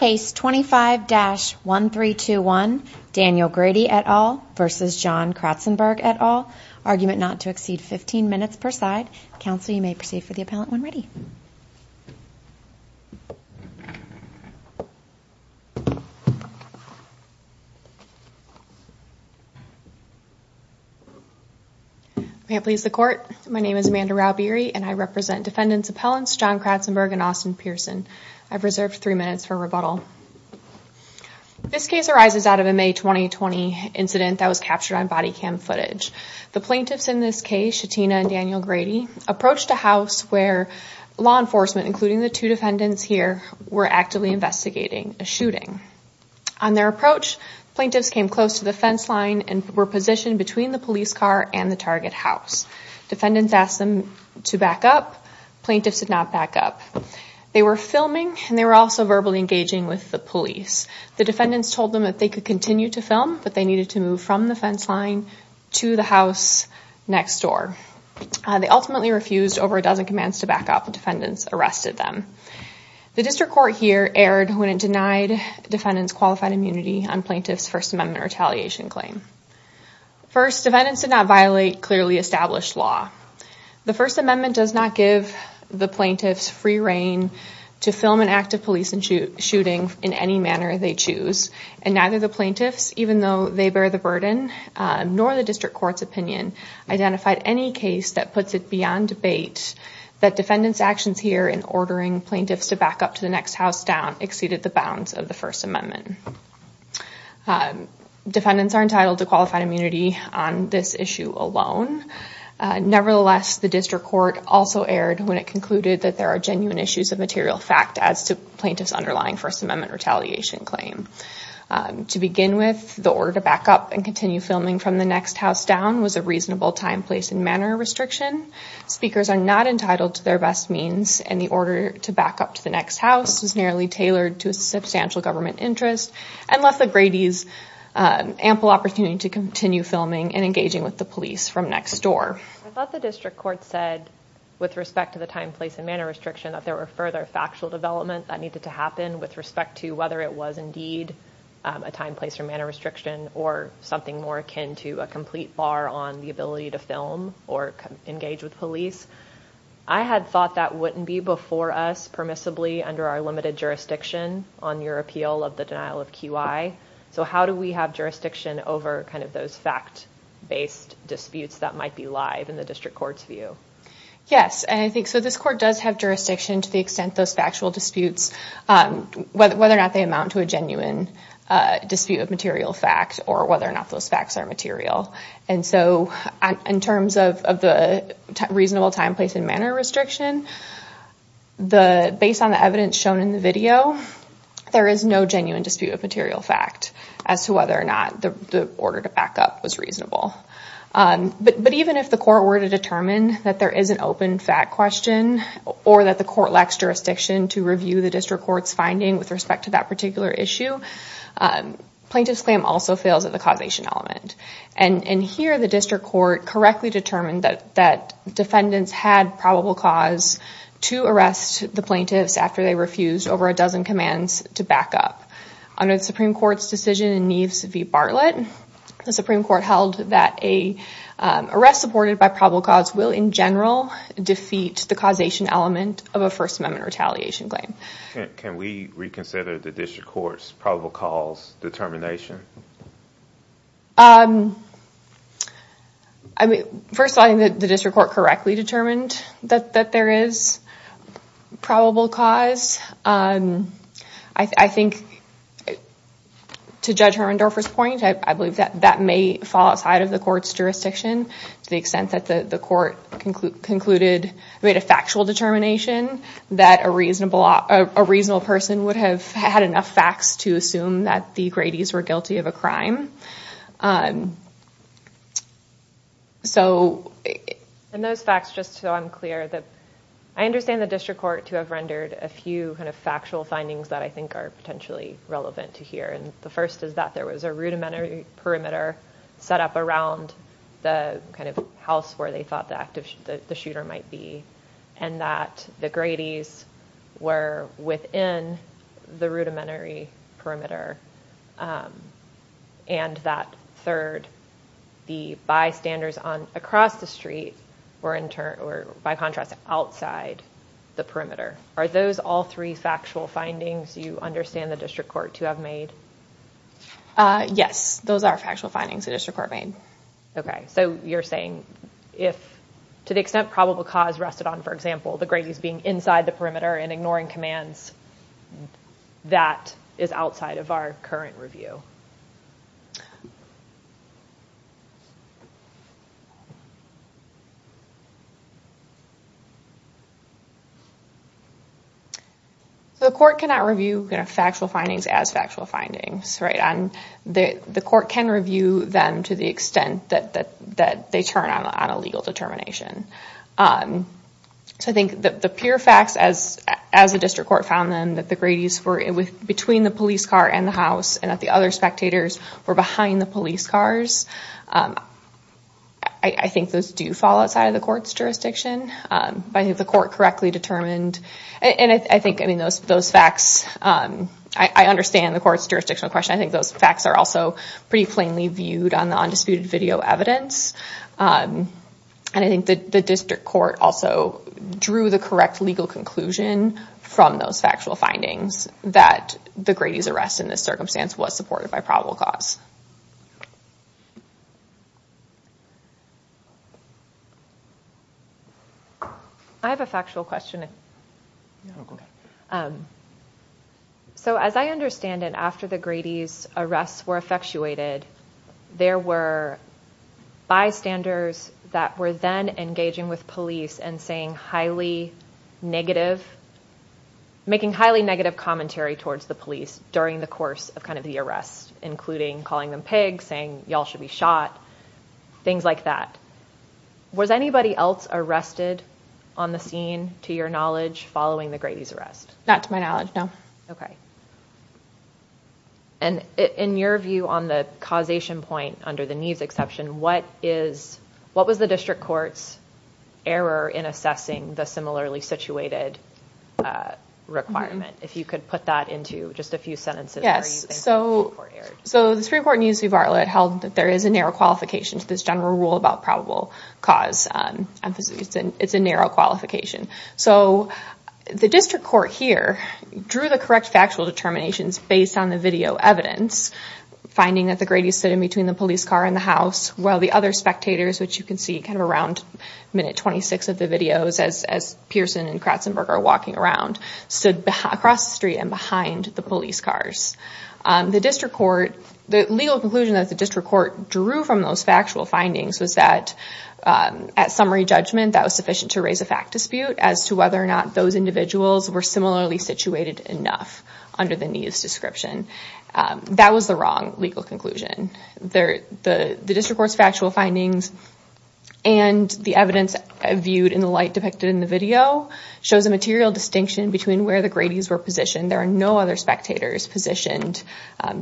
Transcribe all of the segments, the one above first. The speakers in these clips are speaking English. Case 25-1321, Daniel Grady et al. v. John Cratsenburg et al. Argument not to exceed 15 minutes per side. Counsel, you may proceed for the appellant when ready. May it please the court, my name is Amanda Raubieri and I represent defendants appellants John Cratsenburg and Austin Pearson. I've reserved three minutes for rebuttal. This case arises out of a May 2020 incident that was captured on body cam footage. The plaintiffs in this case, Shatina and Daniel Grady, approached a house where law enforcement, including the two defendants here, were actively investigating a shooting. On their approach, plaintiffs came close to the fence line and were positioned between the police car and the target house. Defendants asked them to back up, plaintiffs did not back up. They were filming and they were also verbally engaging with the police. The defendants told them that they could continue to film, but they needed to move from the fence line to the house next door. They ultimately refused over a dozen commands to back up and defendants arrested them. The district court here erred when it denied defendants qualified immunity on plaintiffs First Amendment retaliation claim. First, defendants did not violate clearly established law. The First Amendment does not give the plaintiffs free reign to film an act of police and shooting in any manner they choose. And neither the plaintiffs, even though they bear the burden, nor the district court's opinion, identified any case that puts it beyond debate that defendants actions here in ordering plaintiffs to back up to the next house down exceeded the bounds of the First Amendment. Defendants are entitled to qualified immunity on this issue alone. Nevertheless, the district court also erred that there are genuine issues of material fact as to plaintiffs underlying First Amendment retaliation claim. To begin with, the order to back up and continue filming from the next house down was a reasonable time, place, and manner restriction. Speakers are not entitled to their best means and the order to back up to the next house is nearly tailored to a substantial government interest and left the Grady's ample opportunity to continue filming and engaging with the police from next door. I thought the district court said with respect to the time, place, and manner restriction that there were further factual development that needed to happen with respect to whether it was indeed a time, place, or manner restriction or something more akin to a complete bar on the ability to film or engage with police. I had thought that wouldn't be before us permissibly under our limited jurisdiction on your appeal of the denial of QI. So how do we have jurisdiction over kind of those fact-based disputes that might be live in the district court's view? Yes, and I think, so this court does have jurisdiction to the extent those factual disputes, whether or not they amount to a genuine dispute of material facts or whether or not those facts are material. And so in terms of the reasonable time, place, and manner restriction, based on the evidence shown in the video, there is no genuine dispute of material fact as to whether or not the order to back up was reasonable. But even if the court were to determine that there is an open fact question or that the court lacks jurisdiction to review the district court's finding with respect to that particular issue, plaintiff's claim also fails at the causation element. And here, the district court correctly determined that defendants had probable cause to arrest the plaintiffs after they refused over a dozen commands to back up. Under the Supreme Court's decision in Neves v. Bartlett, the Supreme Court held that a arrest supported by probable cause will, in general, defeat the causation element of a First Amendment retaliation claim. Can we reconsider the district court's probable cause determination? First of all, I think that the district court correctly determined that there is probable cause. I think, to Judge Herndorfer's point, I believe that that may fall outside of the court's jurisdiction to the extent that the court concluded, made a factual determination that a reasonable person would have had enough facts to assume that the Grady's were guilty of a crime. So... And those facts, just so I'm clear, that I understand the district court to have rendered a few kind of factual findings that I think are potentially relevant to here. And the first is that there was a rudimentary perimeter set up around the kind of house where they thought the shooter might be, and that the Grady's were within the rudimentary perimeter, and that, third, the bystanders across the street were, by contrast, outside the perimeter. Are those all three factual findings you understand the district court to have made? Yes, those are factual findings the district court made. Okay, so you're saying if, to the extent probable cause rested on, for example, the Grady's being inside the perimeter and ignoring commands, that is outside of our current review? The court cannot review factual findings as factual findings, right? And the court can review them to the extent that they turn on a legal determination. So I think the pure facts, as the district court found them, that the Grady's were between the police car and the house, and that the other spectators were behind the police cars, I think those do fall outside of the court's jurisdiction. But I think the court correctly determined, and I think, I mean, those facts, I understand the court's jurisdictional question. I think those facts are also pretty plainly viewed on the undisputed video evidence. And I think the district court also drew the correct legal conclusion from those factual findings that the Grady's arrest in this circumstance was supported by probable cause. I have a factual question. So as I understand it, after the Grady's arrests were effectuated, there were bystanders that were then engaging with police and saying highly negative, making highly negative commentary towards the police during the course of kind of the arrest, including calling them pigs, saying y'all should be shot, things like that. Was anybody else arrested on the scene, to your knowledge, following the Grady's arrest? Not to my knowledge, no. Okay. And in your view on the causation point under the Neves exception, what was the district court's error in assessing the similarly situated requirement? If you could put that into just a few sentences. Yes, so the district court held that there is a narrow qualification to this general rule about probable cause. Emphasis, it's a narrow qualification. So the district court here drew the correct factual determinations based on the video evidence, finding that the Grady's stood in between the police car and the house, while the other spectators, which you can see kind of around minute 26 of the videos as Pearson and Kratzenberg are walking around, stood across the street and behind the police cars. The district court, the legal conclusion that the district court drew from those factual findings was that at summary judgment, that was sufficient to raise a fact dispute as to whether or not those individuals were similarly situated enough under the Neves description. That was the wrong legal conclusion. The district court's factual findings and the evidence viewed in the light depicted in the video shows a material distinction between where the Grady's were positioned. There are no other spectators positioned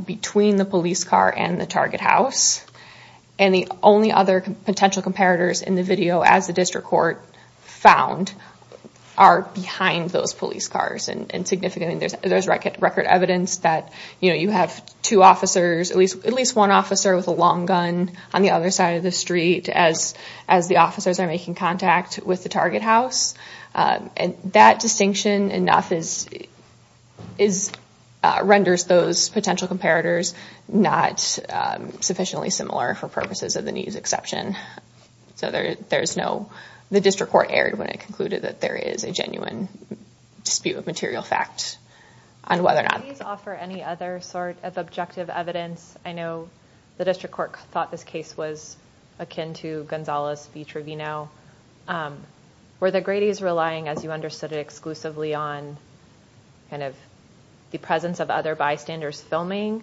between the police car and the target house. And the only other potential comparators in the video as the district court found are behind those police cars. And significantly, there's record evidence that you have two officers, at least one officer with a long gun on the other side of the street as the officers are making contact with the target house. And that distinction enough renders those potential comparators not sufficiently similar for purposes of the Neves exception. So there's no, the district court erred when it concluded that there is a genuine dispute of material fact on whether or not- Do these offer any other sort of objective evidence? I know the district court thought this case was akin to Gonzales v. Trevino. Were the Grady's relying, as you understood it, exclusively on kind of the presence of other bystanders filming?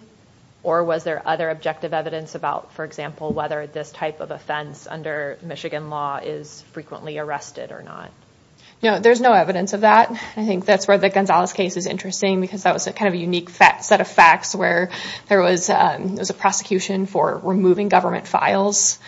Or was there other objective evidence about, for example, whether this type of offense under Michigan law is frequently arrested or not? No, there's no evidence of that. I think that's where the Gonzales case is interesting because that was a kind of a unique set of facts where there was a prosecution for removing government files.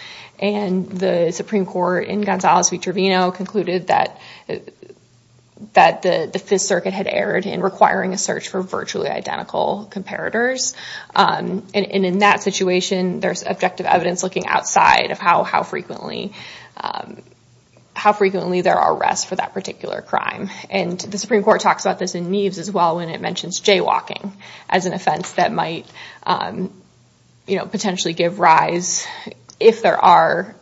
And the Supreme Court in Gonzales v. Trevino concluded that the Fifth Circuit had erred in requiring a search for virtually identical comparators. And in that situation, there's objective evidence looking outside of how frequently there are arrests for that particular crime. And the Supreme Court talks about this in Neves as well when it mentions jaywalking as an offense that might potentially give rise if there are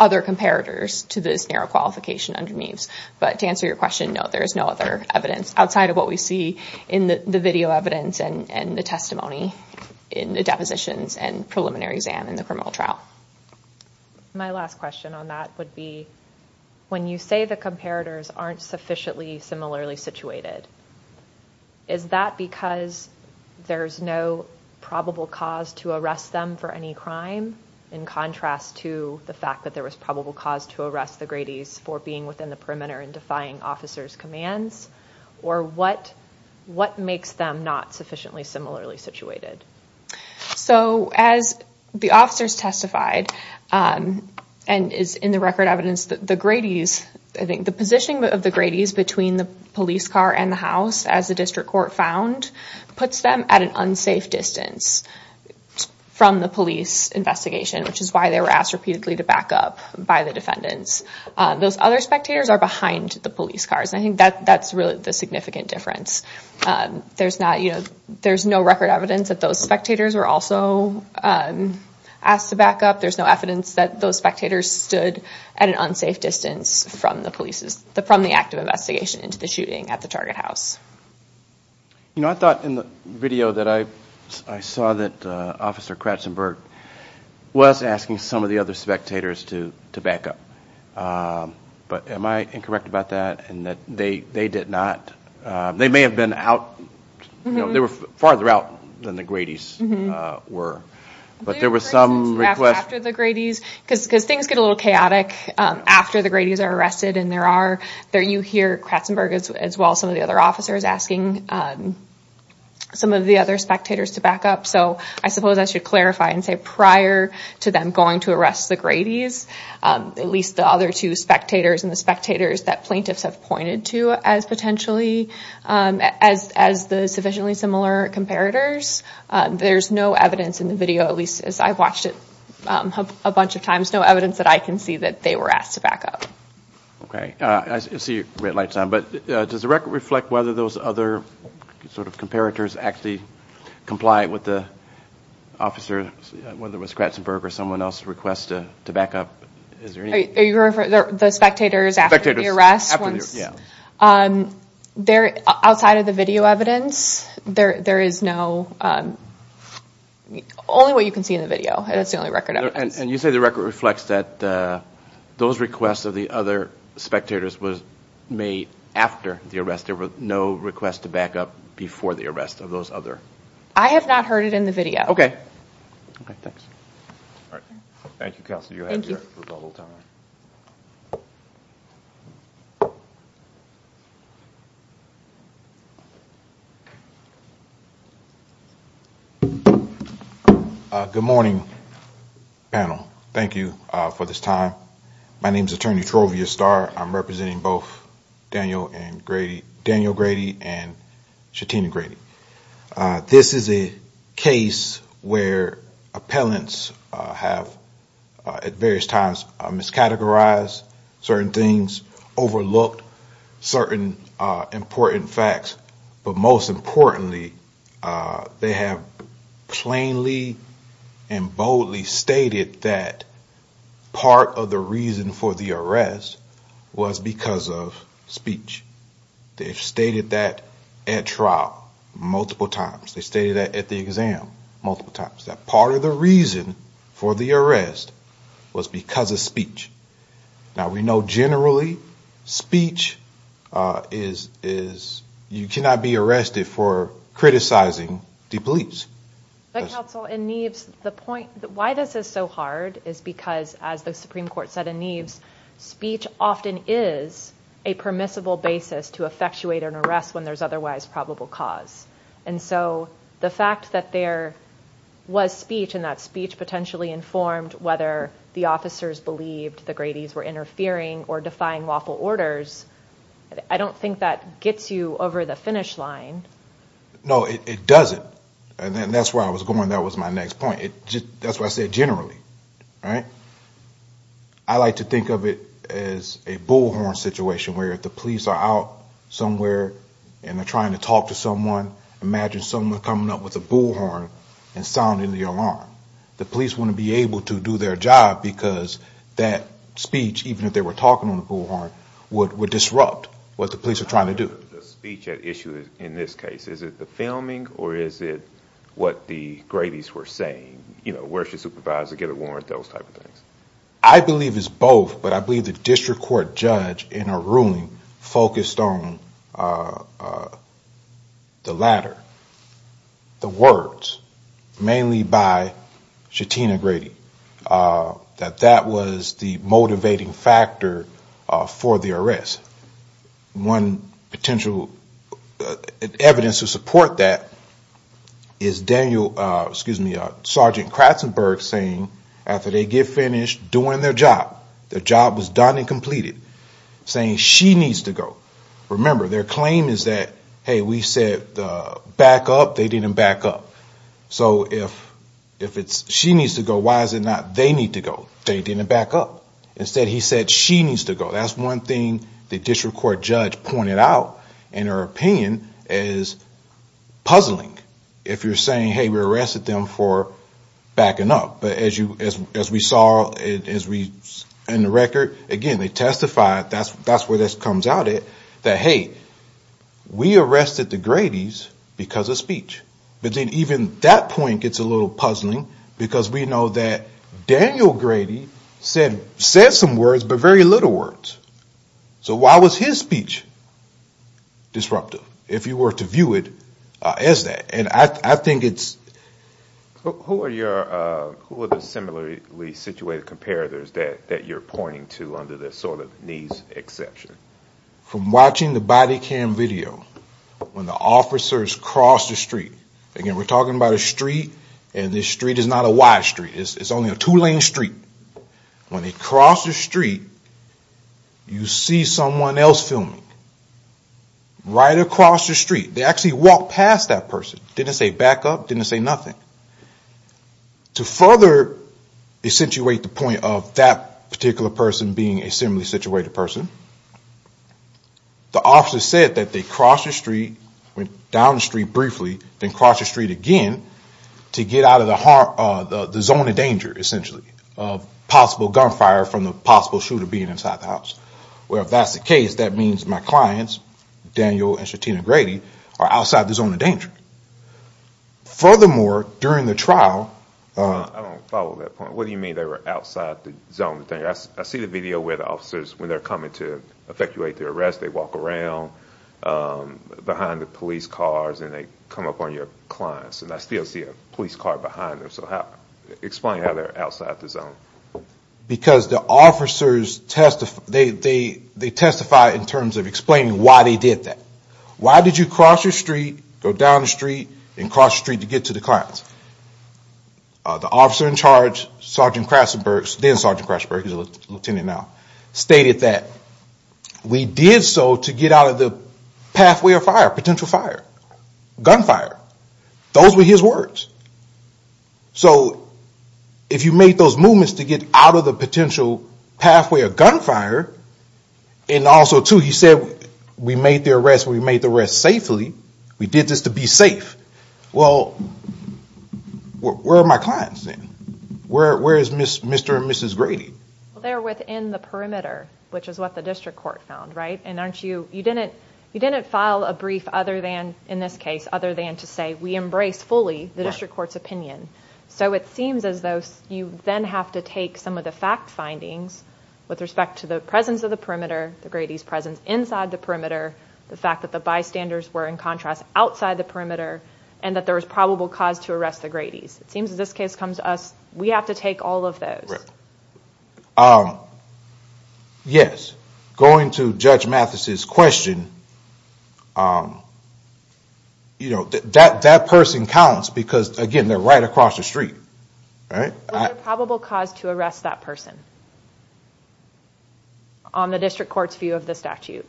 other comparators to this narrow qualification under Neves. But to answer your question, no, there is no other evidence outside of what we see in the video evidence and the testimony in the depositions and preliminary exam in the criminal trial. My last question on that would be, when you say the comparators aren't sufficiently similarly situated, is that because there's no probable cause to arrest them for any crime in contrast to the fact that there was probable cause to arrest the Gradys for being within the perimeter and defying officers' commands? Or what makes them not sufficiently similarly situated? So as the officers testified, and is in the record evidence that the Gradys, I think the positioning of the Gradys between the police car and the house as the district court found puts them at an unsafe distance from the police investigation, which is why they were asked repeatedly to back up by the defendants. Those other spectators are behind the police cars, and I think that's really the significant difference. There's no record evidence that those spectators were also asked to back up. There's no evidence that those spectators stood at an unsafe distance from the police, from the active investigation into the shooting at the Target House. You know, I thought in the video that I saw that Officer Kratzenberg was asking some of the other spectators to back up. But am I incorrect about that, in that they did not, they may have been out, they were farther out than the Gradys were. But there was some request- After the Gradys, because things get a little chaotic after the Gradys are arrested, and there are, you hear Kratzenberg as well, some of the other officers asking some of the other spectators to back up. So I suppose I should clarify and say prior to them going to arrest the Gradys, at least the other two spectators and the spectators that plaintiffs have pointed to as potentially, as the sufficiently similar comparators, there's no evidence in the video, at least as I've watched it a bunch of times, no evidence that I can see that they were asked to back up. Okay, I see red lights on, but does the record reflect whether those other sort of comparators actually complied with the officer, whether it was Kratzenberg or someone else's request to back up? Is there any- Are you referring to the spectators after the arrest? Spectators, after the arrest, yeah. They're, outside of the video evidence, there is no, only what you can see in the video, and it's the only record evidence. And you say the record reflects that those requests of the other spectators was made after the arrest. There were no requests to back up before the arrest of those other- I have not heard it in the video. Okay. Okay, thanks. All right. Thank you, Counselor. Thank you. You have your rebuttal time. Good morning, panel. Thank you for this time. My name's Attorney Trovia Starr. I'm representing both Daniel and Grady, Daniel Grady and Shatina Grady. This is a case where appellants have, at various times, miscategorized certain things, overlooked certain important facts, but most importantly, they have plainly and boldly stated that part of the reason for the arrest was because of speech. They've stated that at trial multiple times. They stated that at the exam multiple times. That part of the reason for the arrest was because of speech. Now, we know generally, speech is, you cannot be arrested for criticizing the police. But, Counsel, in Neves, the point, why this is so hard is because, as the Supreme Court said in Neves, speech often is a permissible basis to effectuate an arrest when there's otherwise probable cause. And so, the fact that there was speech and that speech potentially informed whether the officers believed the Grady's were interfering or defying lawful orders, I don't think that gets you over the finish line. No, it doesn't. And that's where I was going. That was my next point. That's what I said generally, right? I like to think of it as a bullhorn situation where if the police are out somewhere and they're trying to talk to someone, imagine someone coming up with a bullhorn and sounding the alarm. The police wouldn't be able to do their job because that speech, even if they were talking on the bullhorn, would disrupt what the police are trying to do. The speech at issue in this case, is it the filming or is it what the Grady's were saying? You know, where's your supervisor? Get a warrant, those type of things. I believe it's both, but I believe the district court judge in a ruling focused on the latter, the words, mainly by Shatina Grady, that that was the motivating factor for the arrest. One potential evidence to support that is Daniel, excuse me, Sergeant Kratzenberg saying, after they get finished doing their job, their job was done and completed, saying she needs to go. Remember their claim is that, hey, we said back up, they didn't back up. So if it's she needs to go, why is it not they need to go? They didn't back up. Instead he said she needs to go. That's one thing the district court judge pointed out in her opinion is puzzling. If you're saying, hey, we arrested them for backing up. But as we saw in the record, again, they testified, that's where this comes out at, that, hey, we arrested the Grady's because of speech. But then even that point gets a little puzzling because we know that Daniel Grady said some words, but very little words. So why was his speech disruptive if you were to view it as that? And I think it's... Who are the similarly situated comparators that you're pointing to under this sort of needs exception? From watching the body cam video, when the officers crossed the street, again, we're talking about a street and this street is not a wide street, it's only a two lane street. When they cross the street, you see someone else filming. Right across the street, they actually walked past that person. Didn't say backup, didn't say nothing. To further accentuate the point of that particular person being a similarly situated person, the officer said that they crossed the street, went down the street briefly, then crossed the street again to get out of the zone of danger, essentially, of possible gunfire from the possible shooter being inside the house. Well, if that's the case, that means my clients, Daniel and Shatina Grady, are outside the zone of danger. Furthermore, during the trial... I don't follow that point. What do you mean they were outside the zone of danger? I see the video where the officers, when they're coming to effectuate their arrest, they walk around behind the police cars and they come up on your clients and I still see a police car behind them. So explain how they're outside the zone. Because the officers testify... They testify in terms of explaining why they did that. Why did you cross the street, go down the street, and cross the street to get to the clients? The officer in charge, Sergeant Crasenberg, then Sergeant Crasenberg, he's a lieutenant now, stated that we did so to get out of the pathway of fire, potential fire, gunfire. Those were his words. So if you make those movements to get out of the potential pathway of gunfire, and also too, he said, we made the arrest, we made the arrest safely, we did this to be safe. Well, where are my clients then? Where is Mr. and Mrs. Grady? Well, they're within the perimeter, which is what the district court found, right? And aren't you, you didn't file a brief other than, in this case, other than to say, we embrace fully the district court's opinion. So it seems as though you then have to take some of the fact findings with respect to the presence of the perimeter, the Grady's presence inside the perimeter, the fact that the bystanders were, in contrast, outside the perimeter, and that there was probable cause to arrest the Grady's. It seems as this case comes to us, we have to take all of those. Yes. Going to Judge Mathis's question, that person counts because, again, they're right across the street, right? Was there probable cause to arrest that person on the district court's view of the statute?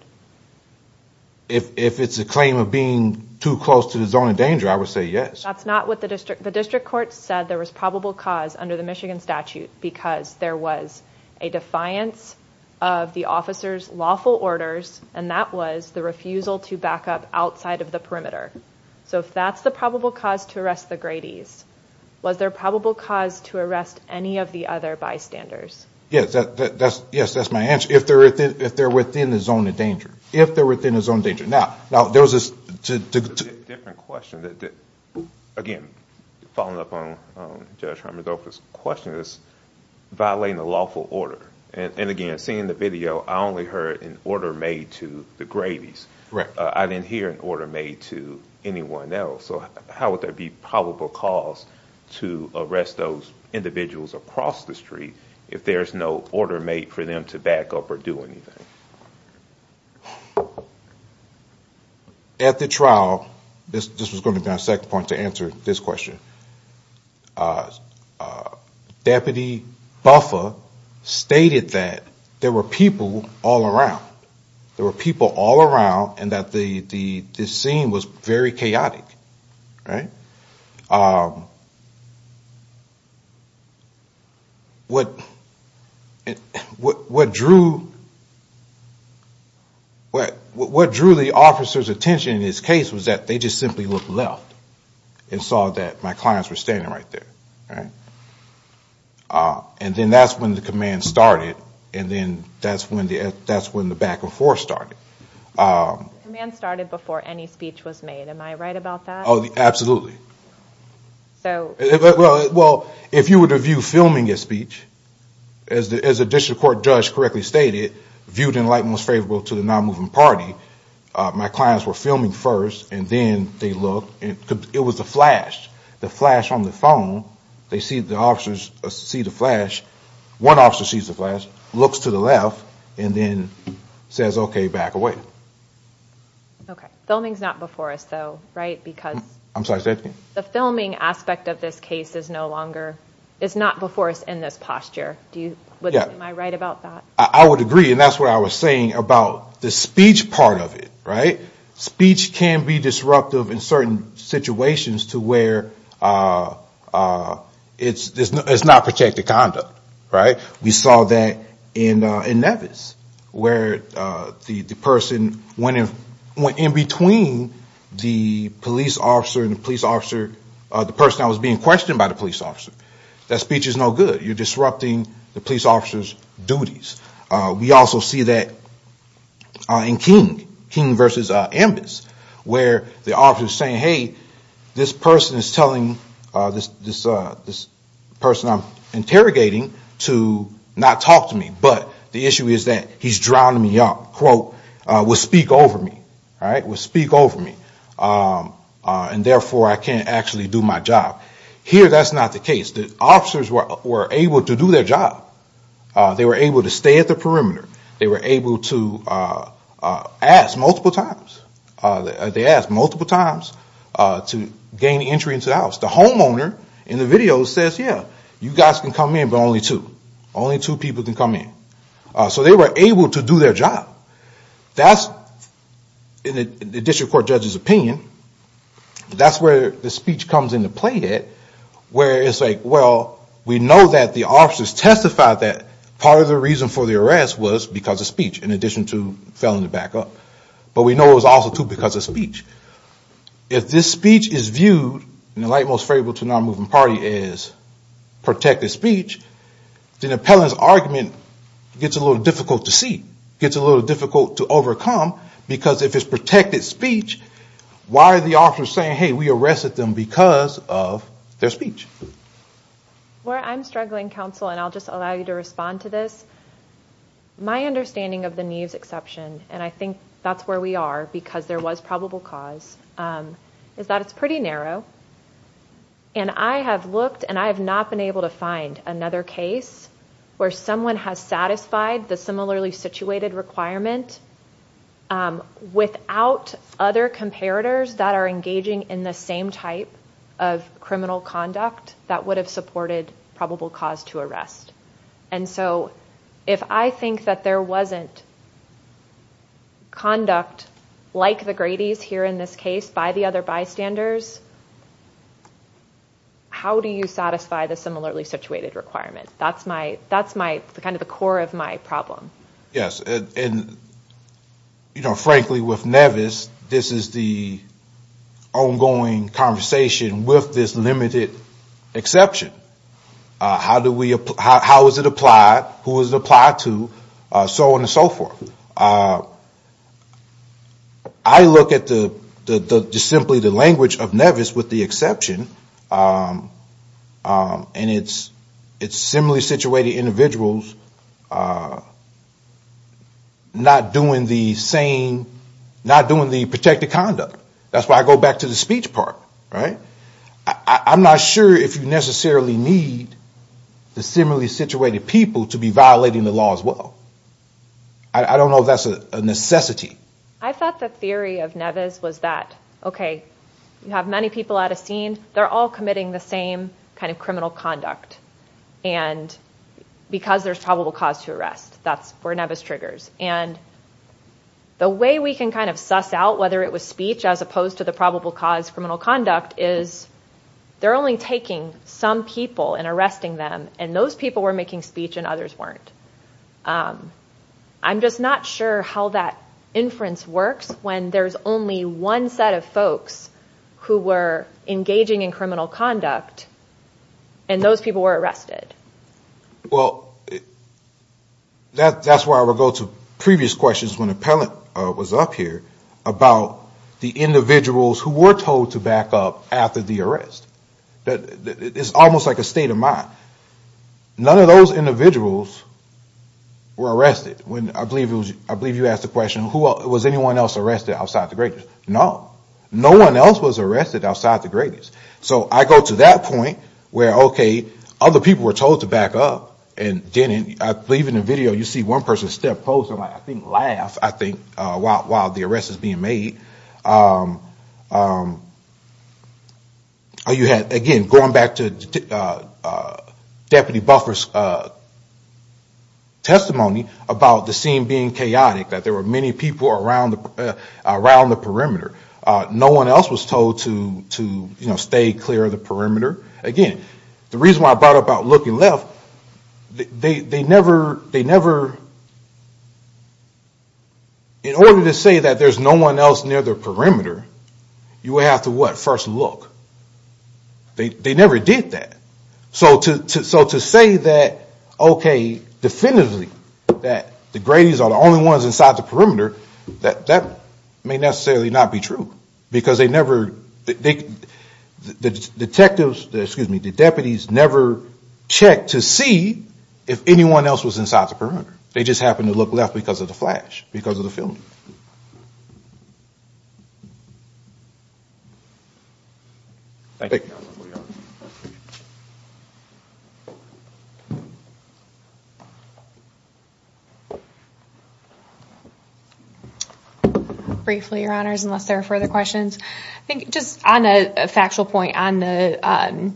If it's a claim of being too close to the zone of danger, I would say yes. That's not what the district, the district court said there was probable cause under the Michigan statute because there was a defiance of the officer's lawful orders, and that was the refusal to back up outside of the perimeter. So if that's the probable cause to arrest the Grady's, was there probable cause to arrest any of the other bystanders? Yes, that's my answer. If they're within the zone of danger. If they're within the zone of danger. Now, there was a... Different question that, again, following up on Judge Hermodolfo's question, is violating the lawful order. And again, seeing the video, I only heard an order made to the Grady's. I didn't hear an order made to anyone else. So how would there be probable cause to arrest those individuals across the street if there's no order made for them to back up or do anything? At the trial, this was gonna be our second point to answer this question. Deputy Buffa stated that there were people all around. There were people all around and that the scene was very chaotic. What drew the officer's attention in this case was that they just simply looked left and saw that my clients were standing right there. And then that's when the command started and then that's when the back and forth started. Command started before any speech was made. Am I right about that? Absolutely. Well, if you were to view filming as speech, as the district court judge correctly stated, viewed in light and was favorable to the non-moving party, my clients were filming first and then they looked. It was a flash. The flash on the phone. They see the officers see the flash. One officer sees the flash, looks to the left and then says, okay, back away. Okay, filming's not before us though, right? Because the filming aspect of this case is no longer, is not before us in this posture. Do you, am I right about that? I would agree and that's what I was saying about the speech part of it, right? Speech can be disruptive in certain situations to where it's not protected conduct, right? We saw that in Nevis where the person went in between the police officer and the police officer, the person that was being questioned by the police officer. That speech is no good. You're disrupting the police officer's duties. We also see that in King, King versus Ambus where the officer was saying, hey, this person is telling this person I'm interrogating to not talk to me, but the issue is that he's drowning me out, quote, will speak over me, right? Will speak over me and therefore I can't actually do my job. Here, that's not the case. The officers were able to do their job. They were able to stay at the perimeter. They were able to ask multiple times. They asked multiple times to gain entry into the house. The homeowner in the video says, yeah, you guys can come in, but only two. Only two people can come in. So they were able to do their job. That's the district court judge's opinion. That's where the speech comes into play at where it's like, well, we know that the officers testified that part of the reason for the arrest was because of speech in addition to felony backup, but we know it was also too because of speech. If this speech is viewed in the light most favorable to a non-moving party as protected speech, then the appellant's argument gets a little difficult to see, gets a little difficult to overcome because if it's protected speech, why are the officers saying, hey, we arrested them because of their speech? Well, I'm struggling, counsel, and I'll just allow you to respond to this. My understanding of the Neves exception, and I think that's where we are because there was probable cause, is that it's pretty narrow, and I have looked and I have not been able to find another case where someone has satisfied the similarly situated requirement without other comparators that are engaging in the same type of criminal conduct that would have supported probable cause to arrest. And so if I think that there wasn't conduct like the Grady's here in this case by the other bystanders, how do you satisfy the similarly situated requirement? That's kind of the core of my problem. Yes, and frankly with Neves, this is the ongoing conversation with this limited exception. How is it applied? Who is it applied to? So on and so forth. I look at the simply the language of Neves with the exception, and it's similarly situated individuals are not doing the same, not doing the protected conduct. That's why I go back to the speech part, right? I'm not sure if you necessarily need the similarly situated people to be violating the law as well. I don't know if that's a necessity. I thought the theory of Neves was that, okay, you have many people at a scene, they're all committing the same kind of criminal conduct. And because there's probable cause to arrest, that's where Neves triggers. And the way we can kind of suss out whether it was speech as opposed to the probable cause criminal conduct is they're only taking some people and arresting them. And those people were making speech and others weren't. I'm just not sure how that inference works when there's only one set of folks who were engaging in criminal conduct. And those people were arrested. Well, that's where I would go to previous questions when Appellant was up here about the individuals who were told to back up after the arrest. That is almost like a state of mind. None of those individuals were arrested. When I believe you asked the question, was anyone else arrested outside the greatest? No, no one else was arrested outside the greatest. So I go to that point where, okay, other people were told to back up and didn't. I believe in the video, you see one person step closer, I think laugh, I think, while the arrest is being made. You had, again, going back to Deputy Buffer's testimony about the scene being chaotic, that there were many people around the perimeter. No one else was told to stay clear of the perimeter. Again, the reason why I brought up looking left, in order to say that there's no one else near the perimeter, you would have to, what, first look. They never did that. So to say that, okay, definitively, that the greatest are the only ones inside the perimeter, that may necessarily not be true, because they never, the detectives, excuse me, the deputies never checked to see if anyone else was inside the perimeter. They just happened to look left because of the flash, because of the filming. Thank you. Briefly, your honors, unless there are further questions. I think just on a factual point on the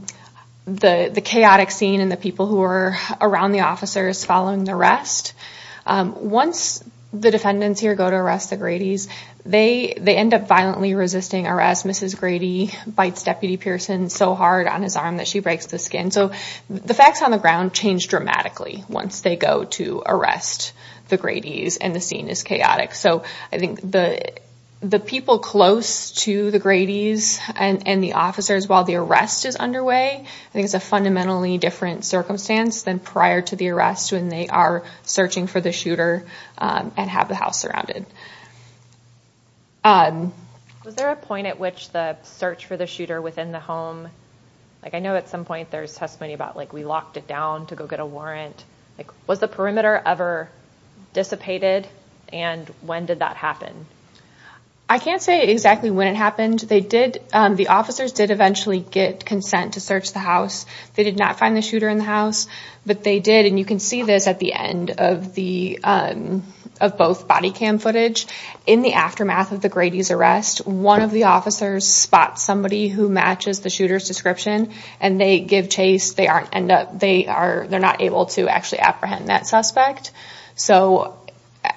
chaotic scene and the people who were around the officers following the arrest, once the defendants here go to arrest the Grady's, they end up violently resisting arrest. Mrs. Grady bites Deputy Pearson so hard on his arm that she breaks the skin. So the facts on the ground change dramatically once they go to arrest the Grady's and the scene is chaotic. I think the people close to the Grady's and the officers while the arrest is underway, I think it's a fundamentally different circumstance than prior to the arrest when they are searching for the shooter and have the house surrounded. Was there a point at which the search for the shooter within the home, I know at some point there's testimony about we locked it down to go get a warrant. Like was the perimeter ever dissipated and when did that happen? I can't say exactly when it happened. They did, the officers did eventually get consent to search the house. They did not find the shooter in the house, but they did and you can see this at the end of both body cam footage. In the aftermath of the Grady's arrest, one of the officers spots somebody who matches the shooter's description and they give chase. They're not able to actually apprehend that suspect. So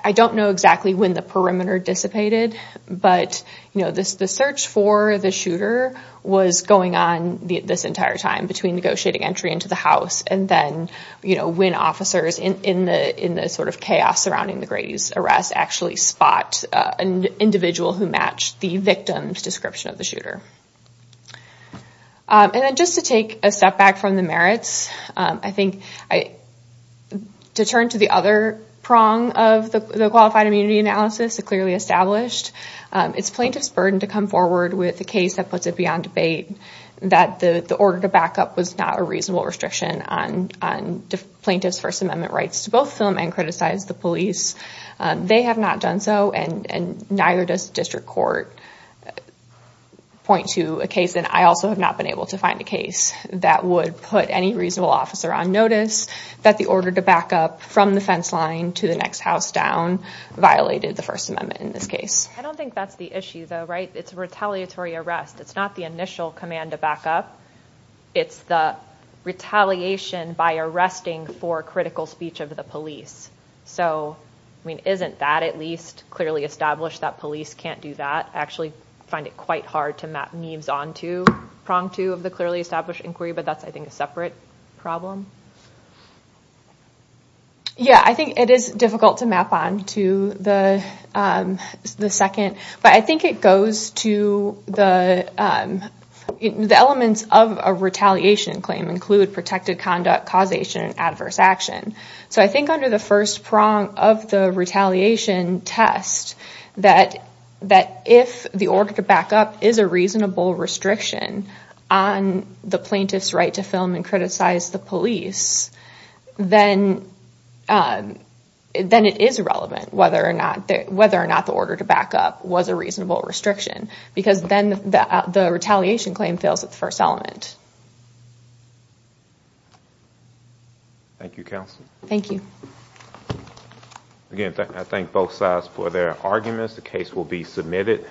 I don't know exactly when the perimeter dissipated, but the search for the shooter was going on this entire time between negotiating entry into the house and then when officers in the sort of chaos surrounding the Grady's arrest actually spot an individual who matched the victim's description of the shooter. And then just to take a step back from the merits, I think to turn to the other prong of the qualified immunity analysis, it clearly established it's plaintiff's burden to come forward with a case that puts it beyond debate, that the order to back up was not a reasonable restriction on plaintiff's First Amendment rights to both film and criticize the police. They have not done so and neither does district court point to a case, and I also have not been able to find a case that would put any reasonable officer on notice that the order to back up from the fence line to the next house down violated the First Amendment in this case. I don't think that's the issue though, right? It's a retaliatory arrest. It's not the initial command to back up. It's the retaliation by arresting for critical speech of the police. So, I mean, isn't that at least clearly established that police can't do that? I actually find it quite hard to map NIEVS onto prong two of the clearly established inquiry, but that's, I think, a separate problem. Yeah, I think it is difficult to map on to the second, but I think it goes to the elements of a retaliation claim include protected conduct, causation, and adverse action. So I think under the first prong of the retaliation test that if the order to back up is a reasonable restriction on the plaintiff's right to film and criticize the police, then it is relevant whether or not the order to back up was a reasonable restriction, because then the retaliation claim fails at the first element. Thank you, counsel. Thank you. Again, I thank both sides for their arguments. The case will be submitted.